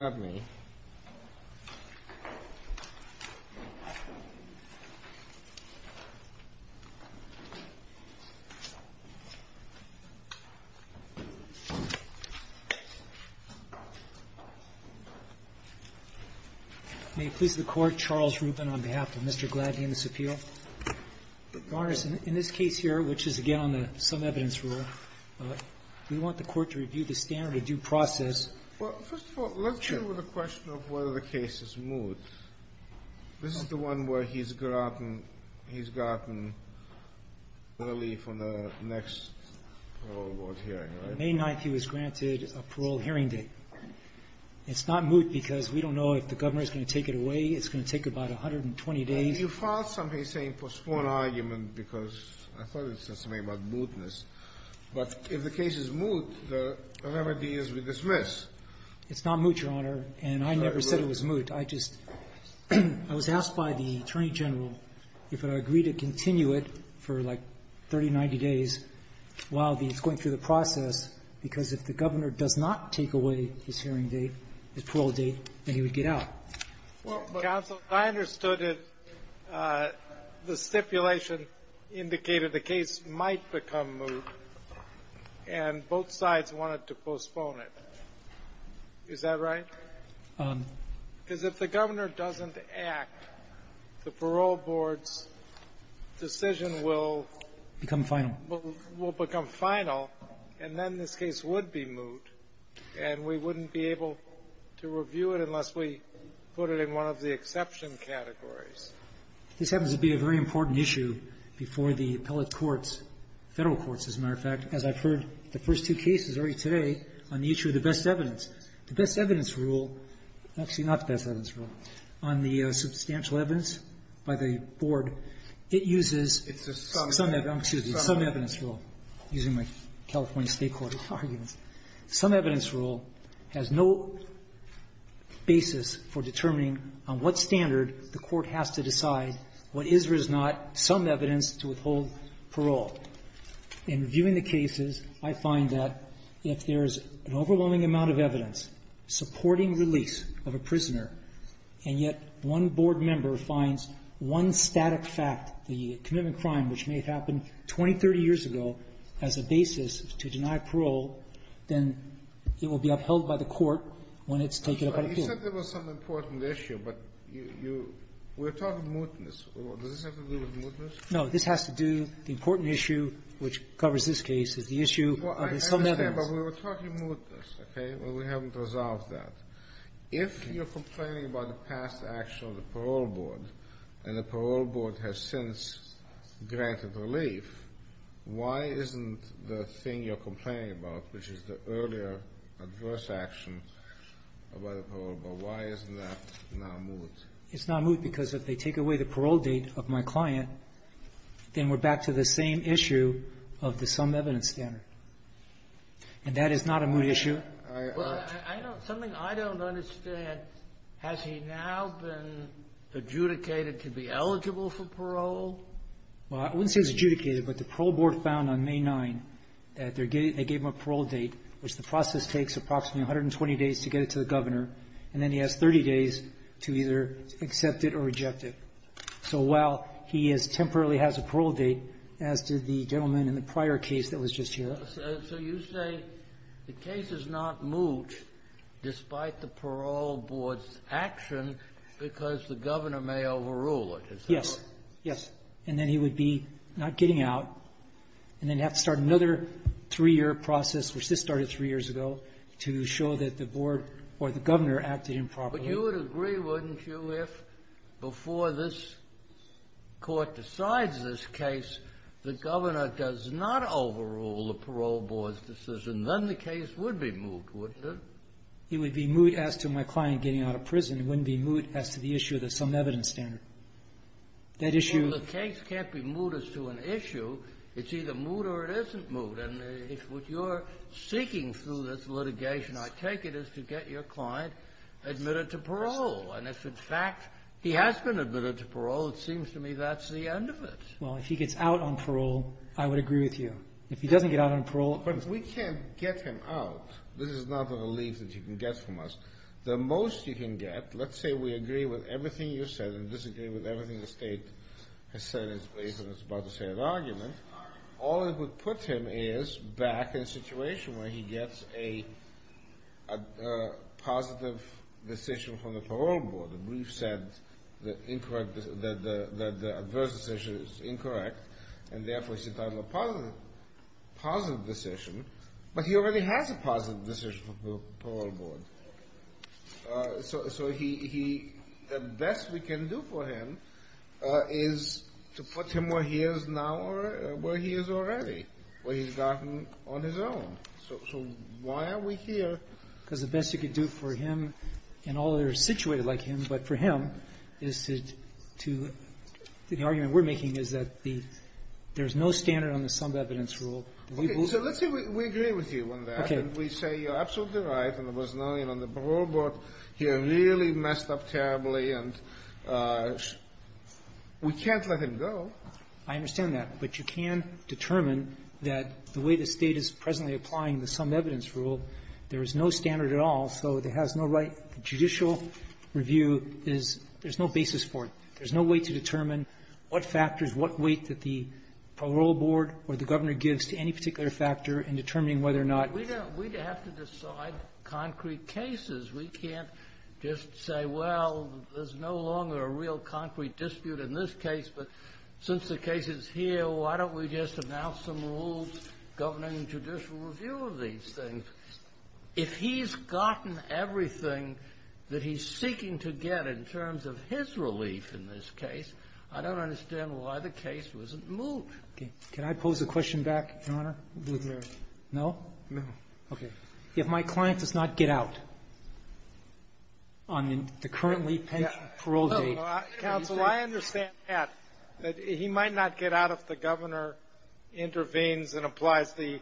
May it please the Court, Charles Rubin on behalf of Mr. Gladney and the Supilio. Your Honor, in this case here, which is again on the some-evidence rule, we want the Court to review the standard of due process. Well, first of all, let's deal with the question of whether the case is moot. This is the one where he's gotten early from the next parole board hearing, right? The May 9th he was granted a parole hearing date. It's not moot because we don't know if the governor is going to take it away. It's going to take about 120 days. And you filed something saying postpone argument because I thought it said something about mootness. But if the case is moot, the remedy is we dismiss. It's not moot, Your Honor. And I never said it was moot. I just was asked by the Attorney General if it would agree to continue it for like 30, 90 days while he's going through the process, because if the governor does not take away his hearing date, his parole date, then he would get out. Counsel, I understood it. The stipulation indicated the case might become moot, and both sides wanted to postpone it. Is that right? Because if the governor doesn't act, the parole board's decision will become final. Will become final, and then this case would be moot, and we wouldn't be able to review it unless we put it in one of the exception categories. This happens to be a very important issue before the appellate courts, Federal courts, as a matter of fact, as I've heard the first two cases already today on the issue of the best evidence. The best evidence rule, actually not the best evidence rule, on the substantial evidence by the board, it uses some evidence rule, using my California State court arguments. Some evidence rule has no basis for determining on what standard the court has to decide what is or is not some evidence to withhold parole. In reviewing the cases, I find that if there is an overwhelming amount of evidence supporting release of a prisoner, and yet one board member finds one static fact, the commitment of crime which may have happened 20, 30 years ago as a basis to deny parole, then it will be upheld by the court when it's taken up by the court. He said there was some important issue, but you we're talking mootness. Does this have to do with mootness? No. This has to do, the important issue which covers this case is the issue of some evidence. I understand, but we were talking mootness, okay? We haven't resolved that. If you're complaining about the past action of the parole board, and the parole board has since granted relief, why isn't the thing you're complaining about, which is the earlier adverse action by the parole board, why isn't that now moot? It's not moot because if they take away the parole date of my client, then we're back to the same issue of the some evidence standard, and that is not a moot issue. Something I don't understand, has he now been adjudicated to be eligible for parole? Well, I wouldn't say he's adjudicated, but the parole board found on May 9th that they gave him a parole date, which the process takes approximately 120 days to get it to the governor, and then he has 30 days to either accept it or reject it. So while he temporarily has a parole date, as did the gentleman in the prior case that was just here. So you say the case is not moot despite the parole board's action because the governor may overrule it, is that right? Yes. Yes. And then he would be not getting out, and then have to start another three-year process, which this started three years ago, to show that the board or the governor acted improperly. But you would agree, wouldn't you, if before this Court decides this case, the governor does not overrule the parole board's decision, then the case would be moot, wouldn't it? It would be moot as to my client getting out of prison. It wouldn't be moot as to the issue of the sum of evidence standard. That issue of the case can't be moot as to an issue. It's either moot or it isn't moot. And if what you're seeking through this litigation, I take it, is to get your client admitted to parole. And if, in fact, he has been admitted to parole, it seems to me that's the end of it. Well, if he gets out on parole, I would agree with you. If he doesn't get out on parole — But if we can't get him out, this is not a relief that you can get from us. The most you can get, let's say we agree with everything you said and disagree with everything the State has said in its place and is about to say in an argument, all it would put him is back in a situation where he gets a positive decision from the parole board. The brief said that the adverse decision is incorrect, and therefore it's entitled to a positive decision. But he already has a positive decision from the parole board. So the best we can do for him is to put him where he is now or where he is already, where he's gotten on his own. So why are we here? Because the best you could do for him and all that are situated like him, but for him, is to the argument we're making is that the — there's no standard on the summed evidence rule. Okay. So let's say we agree with you on that. Okay. And we say, you're absolutely right, and there was no — you know, on the parole board, you really messed up terribly, and we can't let him go. I understand that. But you can determine that the way the State is presently applying the summed evidence rule, there is no standard at all, so it has no right — judicial review is — there's no basis for it. There's no way to determine what factors, what weight that the parole board or the Governor gives to any particular factor in determining whether or not — We have to decide concrete cases. We can't just say, well, there's no longer a real concrete dispute in this case, but since the case is here, why don't we just announce some rules governing judicial review of these things? If he's gotten everything that he's seeking to get in terms of his relief in this case, I don't understand why the case wasn't moved. Okay. Can I pose a question back, Your Honor? No. Okay. If my client does not get out on the currently-pensioned parole date — Counsel, I understand that, that he might not get out if the Governor intervenes and applies the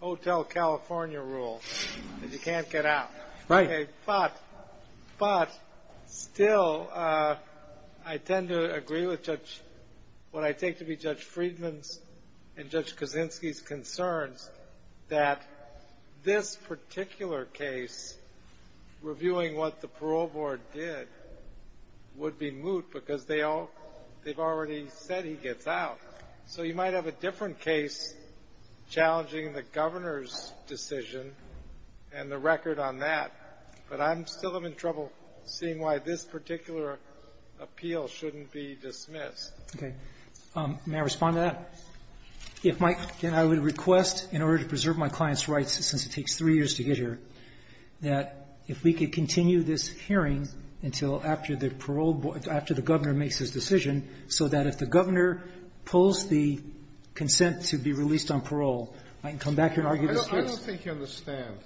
Hotel California rule that you can't get out. Right. Okay. But — but still, I tend to agree with Judge — what I take to be Judge Friedman's and Judge Kaczynski's concerns that this particular case, reviewing what the parole board did, would be moot because they all — they've already said he gets out. So you might have a different case challenging the Governor's decision and the record on that, but I still am in trouble seeing why this particular appeal shouldn't be dismissed. Okay. May I respond to that? If my — and I would request, in order to preserve my client's rights since it takes three years to get here, that if we could continue this hearing until after the parole board — after the Governor makes his decision, so that if the Governor pulls the consent to be released on parole, I can come back here and argue the case. I don't think you understand.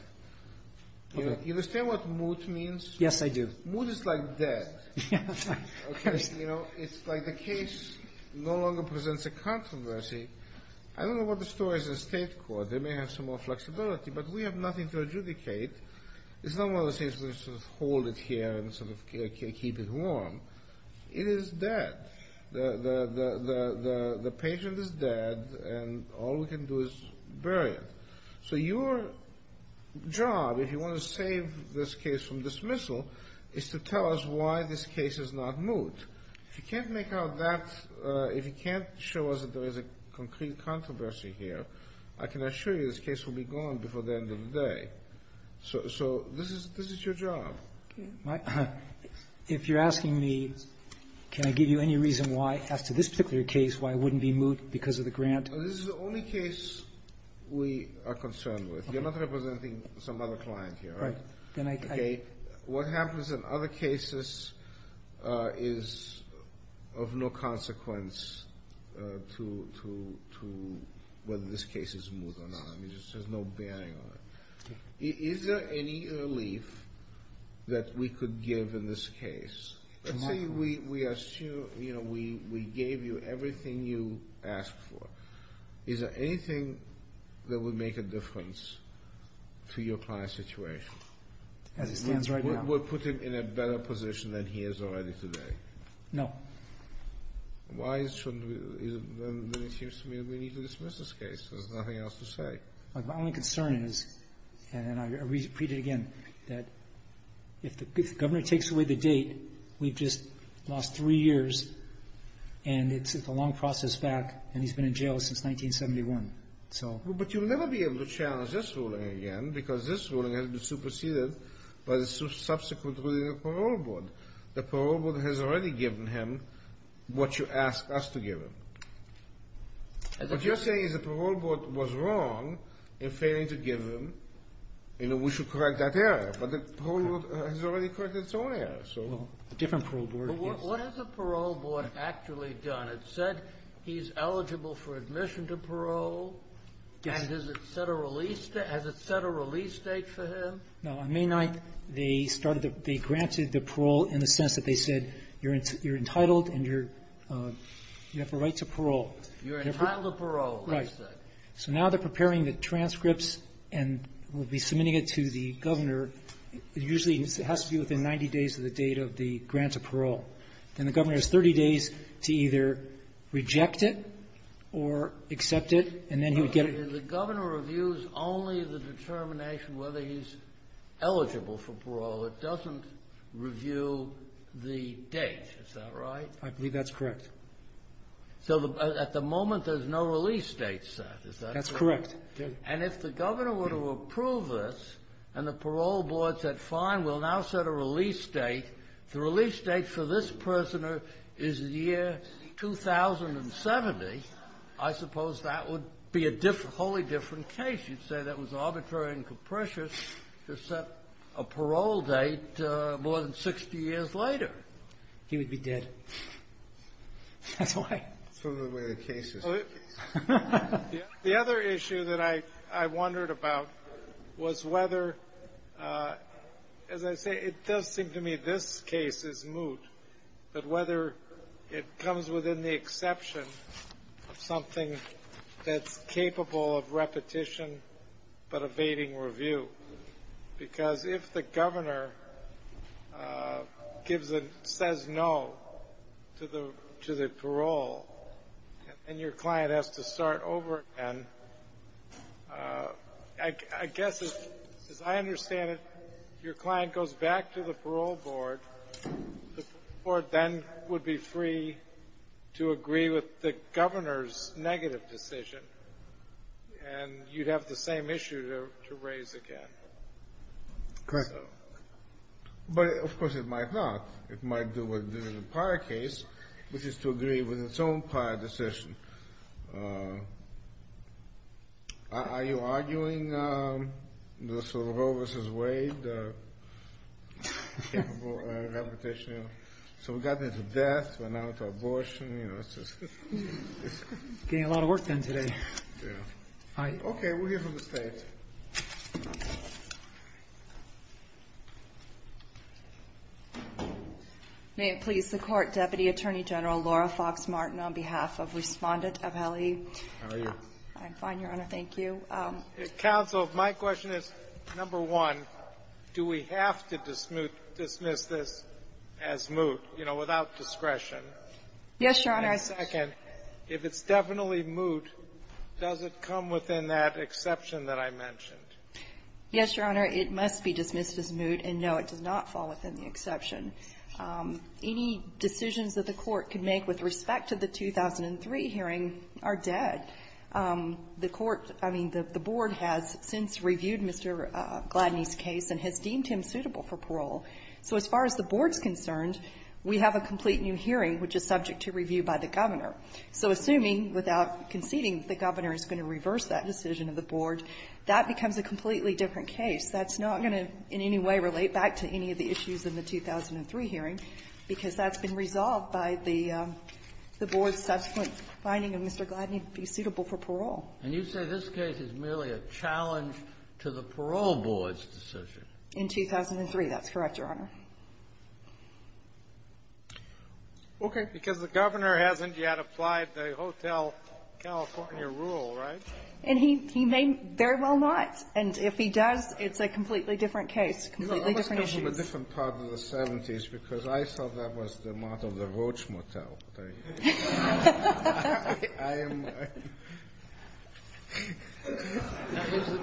Okay. You understand what moot means? Yes, I do. Moot is like that. Yes. Okay. You know, it's like the case no longer presents a controversy. I don't know what the story is in State court. They may have some more flexibility, but we have nothing to adjudicate. It's not one of those cases where you sort of hold it here and sort of keep it warm. It is dead. The patient is dead, and all we can do is bury it. So your job, if you want to save this case from dismissal, is to tell us why this case is not moot. If you can't make out that — if you can't show us that there is a concrete controversy here, I can assure you this case will be gone before the end of the day. So this is your job. Okay. If you're asking me, can I give you any reason why, as to this particular case, why it wouldn't be moot because of the grant? This is the only case we are concerned with. You're not representing some other client here. Right. Then I — Okay. What happens in other cases is of no consequence to whether this case is moot or not. I mean, there's no bearing on it. Is there any relief that we could give in this case? Let's say we gave you everything you asked for. Is there anything that would make a difference to your client's situation? As it stands right now. We'll put him in a better position than he is already today. No. Why shouldn't we? Then it seems to me that we need to dismiss this case. There's nothing else to say. My only concern is, and I repeat it again, that if the Governor takes away the date, we've just lost three years, and it's a long process back, and he's been in jail since 1971. But you'll never be able to challenge this ruling again because this ruling has been superseded by the subsequent ruling of the parole board. The parole board has already given him what you asked us to give him. What you're saying is the parole board was wrong in failing to give him. You know, we should correct that error. But the parole board has already corrected its own error, so. A different parole board. But what has the parole board actually done? It said he's eligible for admission to parole, and has it set a release date for him? No. On May 9th, they started the – they granted the parole in the sense that they said you're entitled and you're – you have a right to parole. You're entitled to parole, they said. Right. So now they're preparing the transcripts and will be submitting it to the Governor. It usually has to be within 90 days of the date of the grant of parole. Then the Governor has 30 days to either reject it or accept it, and then he would get The Governor reviews only the determination whether he's eligible for parole. It doesn't review the date. Is that right? I believe that's correct. So at the moment, there's no release date set. Is that correct? That's correct. And if the Governor were to approve this and the parole board said, fine, we'll now set a release date, the release date for this person is the year 2070, I suppose that would be a wholly different case. You'd say that was arbitrary and capricious to set a parole date more than 60 years later. He would be dead. That's why. That's part of the way the case is. The other issue that I wondered about was whether, as I say, it does seem to me this case is moot, but whether it comes within the exception of something that's capable of repetition but evading review. Because if the Governor says no to the parole, and your client has to start over again, I understand if your client goes back to the parole board, the board then would be free to agree with the Governor's negative decision, and you'd have the same issue to raise again. Correct. But, of course, it might not. It might do what it did in the prior case, which is to agree with its own prior decision. Are you arguing the parole v. Wade? So we got there to death, but now to abortion. Getting a lot of work done today. Okay. We'll hear from the State. May it please the Court, Deputy Attorney General Laura Fox Martin, on behalf of Respondent Aveli. How are you? I'm fine, Your Honor. Thank you. Counsel, my question is, number one, do we have to dismiss this as moot, you know, without discretion? Yes, Your Honor. And second, if it's definitely moot, does it come within that exception that I mentioned? Yes, Your Honor. It must be dismissed as moot, and no, it does not fall within the exception. Any decisions that the Court could make with respect to the 2003 hearing are dead. The Court, I mean, the Board has since reviewed Mr. Gladney's case and has deemed him suitable for parole. So as far as the Board is concerned, we have a complete new hearing which is subject to review by the Governor. So assuming, without conceding, the Governor is going to reverse that decision of the Board, that becomes a completely different case. That's not going to in any way relate back to any of the issues in the 2003 hearing, because that's been resolved by the Board's subsequent finding of Mr. Gladney being suitable for parole. And you say this case is merely a challenge to the parole board's decision? In 2003, that's correct, Your Honor. Okay. Because the Governor hasn't yet applied the Hotel California rule, right? And he may very well not. And if he does, it's a completely different case, completely different issues. I was talking about a different part of the 70s, because I thought that was the model of the Roach Motel.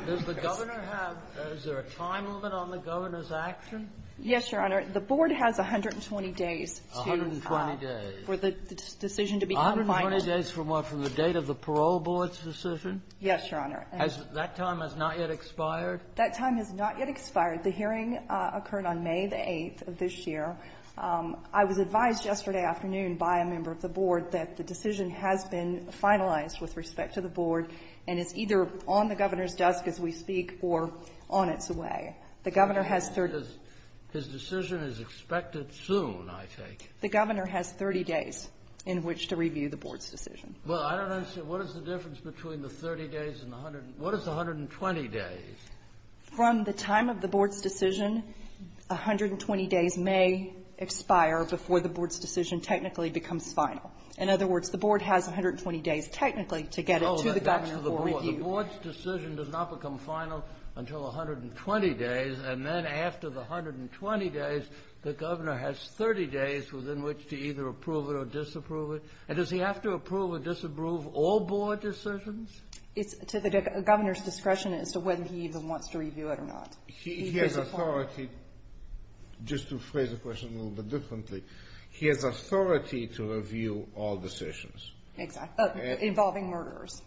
Does the Governor have or is there a time limit on the Governor's action? Yes, Your Honor. The Board has 120 days to ---- 120 days. ---- for the decision to become final. 120 days from what? From the date of the parole board's decision? Yes, Your Honor. That time has not yet expired? That time has not yet expired. The hearing occurred on May the 8th of this year. I was advised yesterday afternoon by a member of the Board that the decision has been finalized with respect to the Board and is either on the Governor's desk as we speak or on its way. The Governor has 30 days. His decision is expected soon, I take it. The Governor has 30 days in which to review the Board's decision. Well, I don't understand. What is the difference between the 30 days and the 120 days? What is the 120 days? From the time of the Board's decision, 120 days may expire before the Board's decision technically becomes final. In other words, the Board has 120 days technically to get it to the Governor for review. The Board's decision does not become final until 120 days. And then after the 120 days, the Governor has 30 days within which to either approve it or disapprove it. And does he have to approve or disapprove all Board decisions? It's to the Governor's discretion as to whether he even wants to review it or not. He has authority. Just to phrase the question a little bit differently, he has authority to review all decisions. Exactly. Involving murderers.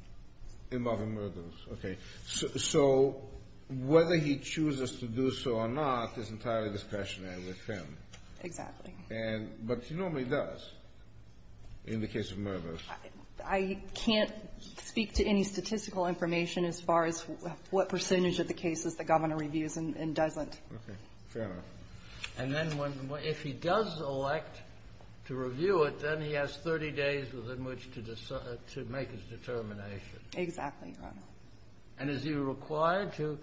Involving murderers. Okay. So whether he chooses to do so or not is entirely discretionary with him. Exactly. But he normally does in the case of murderers. I can't speak to any statistical information as far as what percentage of the cases the Governor reviews and doesn't. Okay. Fair enough. And then if he does elect to review it, then he has 30 days within which to make his determination. Exactly, Your Honor. And is he required to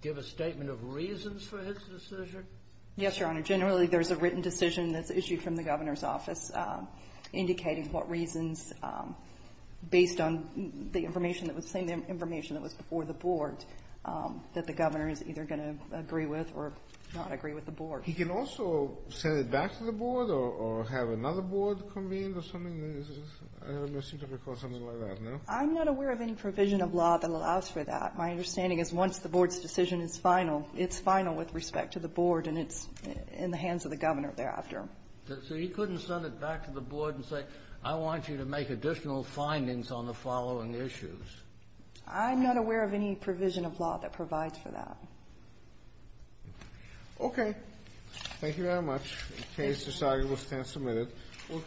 give a statement of reasons for his decision? Yes, Your Honor. Generally, there's a written decision that's issued from the Governor's office indicating what reasons, based on the information that was seen, the information that was before the Board, that the Governor is either going to agree with or not agree with the Board. He can also send it back to the Board or have another Board convened or something? I don't seem to recall something like that, no? I'm not aware of any provision of law that allows for that. My understanding is once the Board's decision is final, it's final with respect to the Board, and it's in the hands of the Governor thereafter. So he couldn't send it back to the Board and say, I want you to make additional findings on the following issues? I'm not aware of any provision of law that provides for that. Okay. Thank you very much. The case is signed. We'll stand a minute.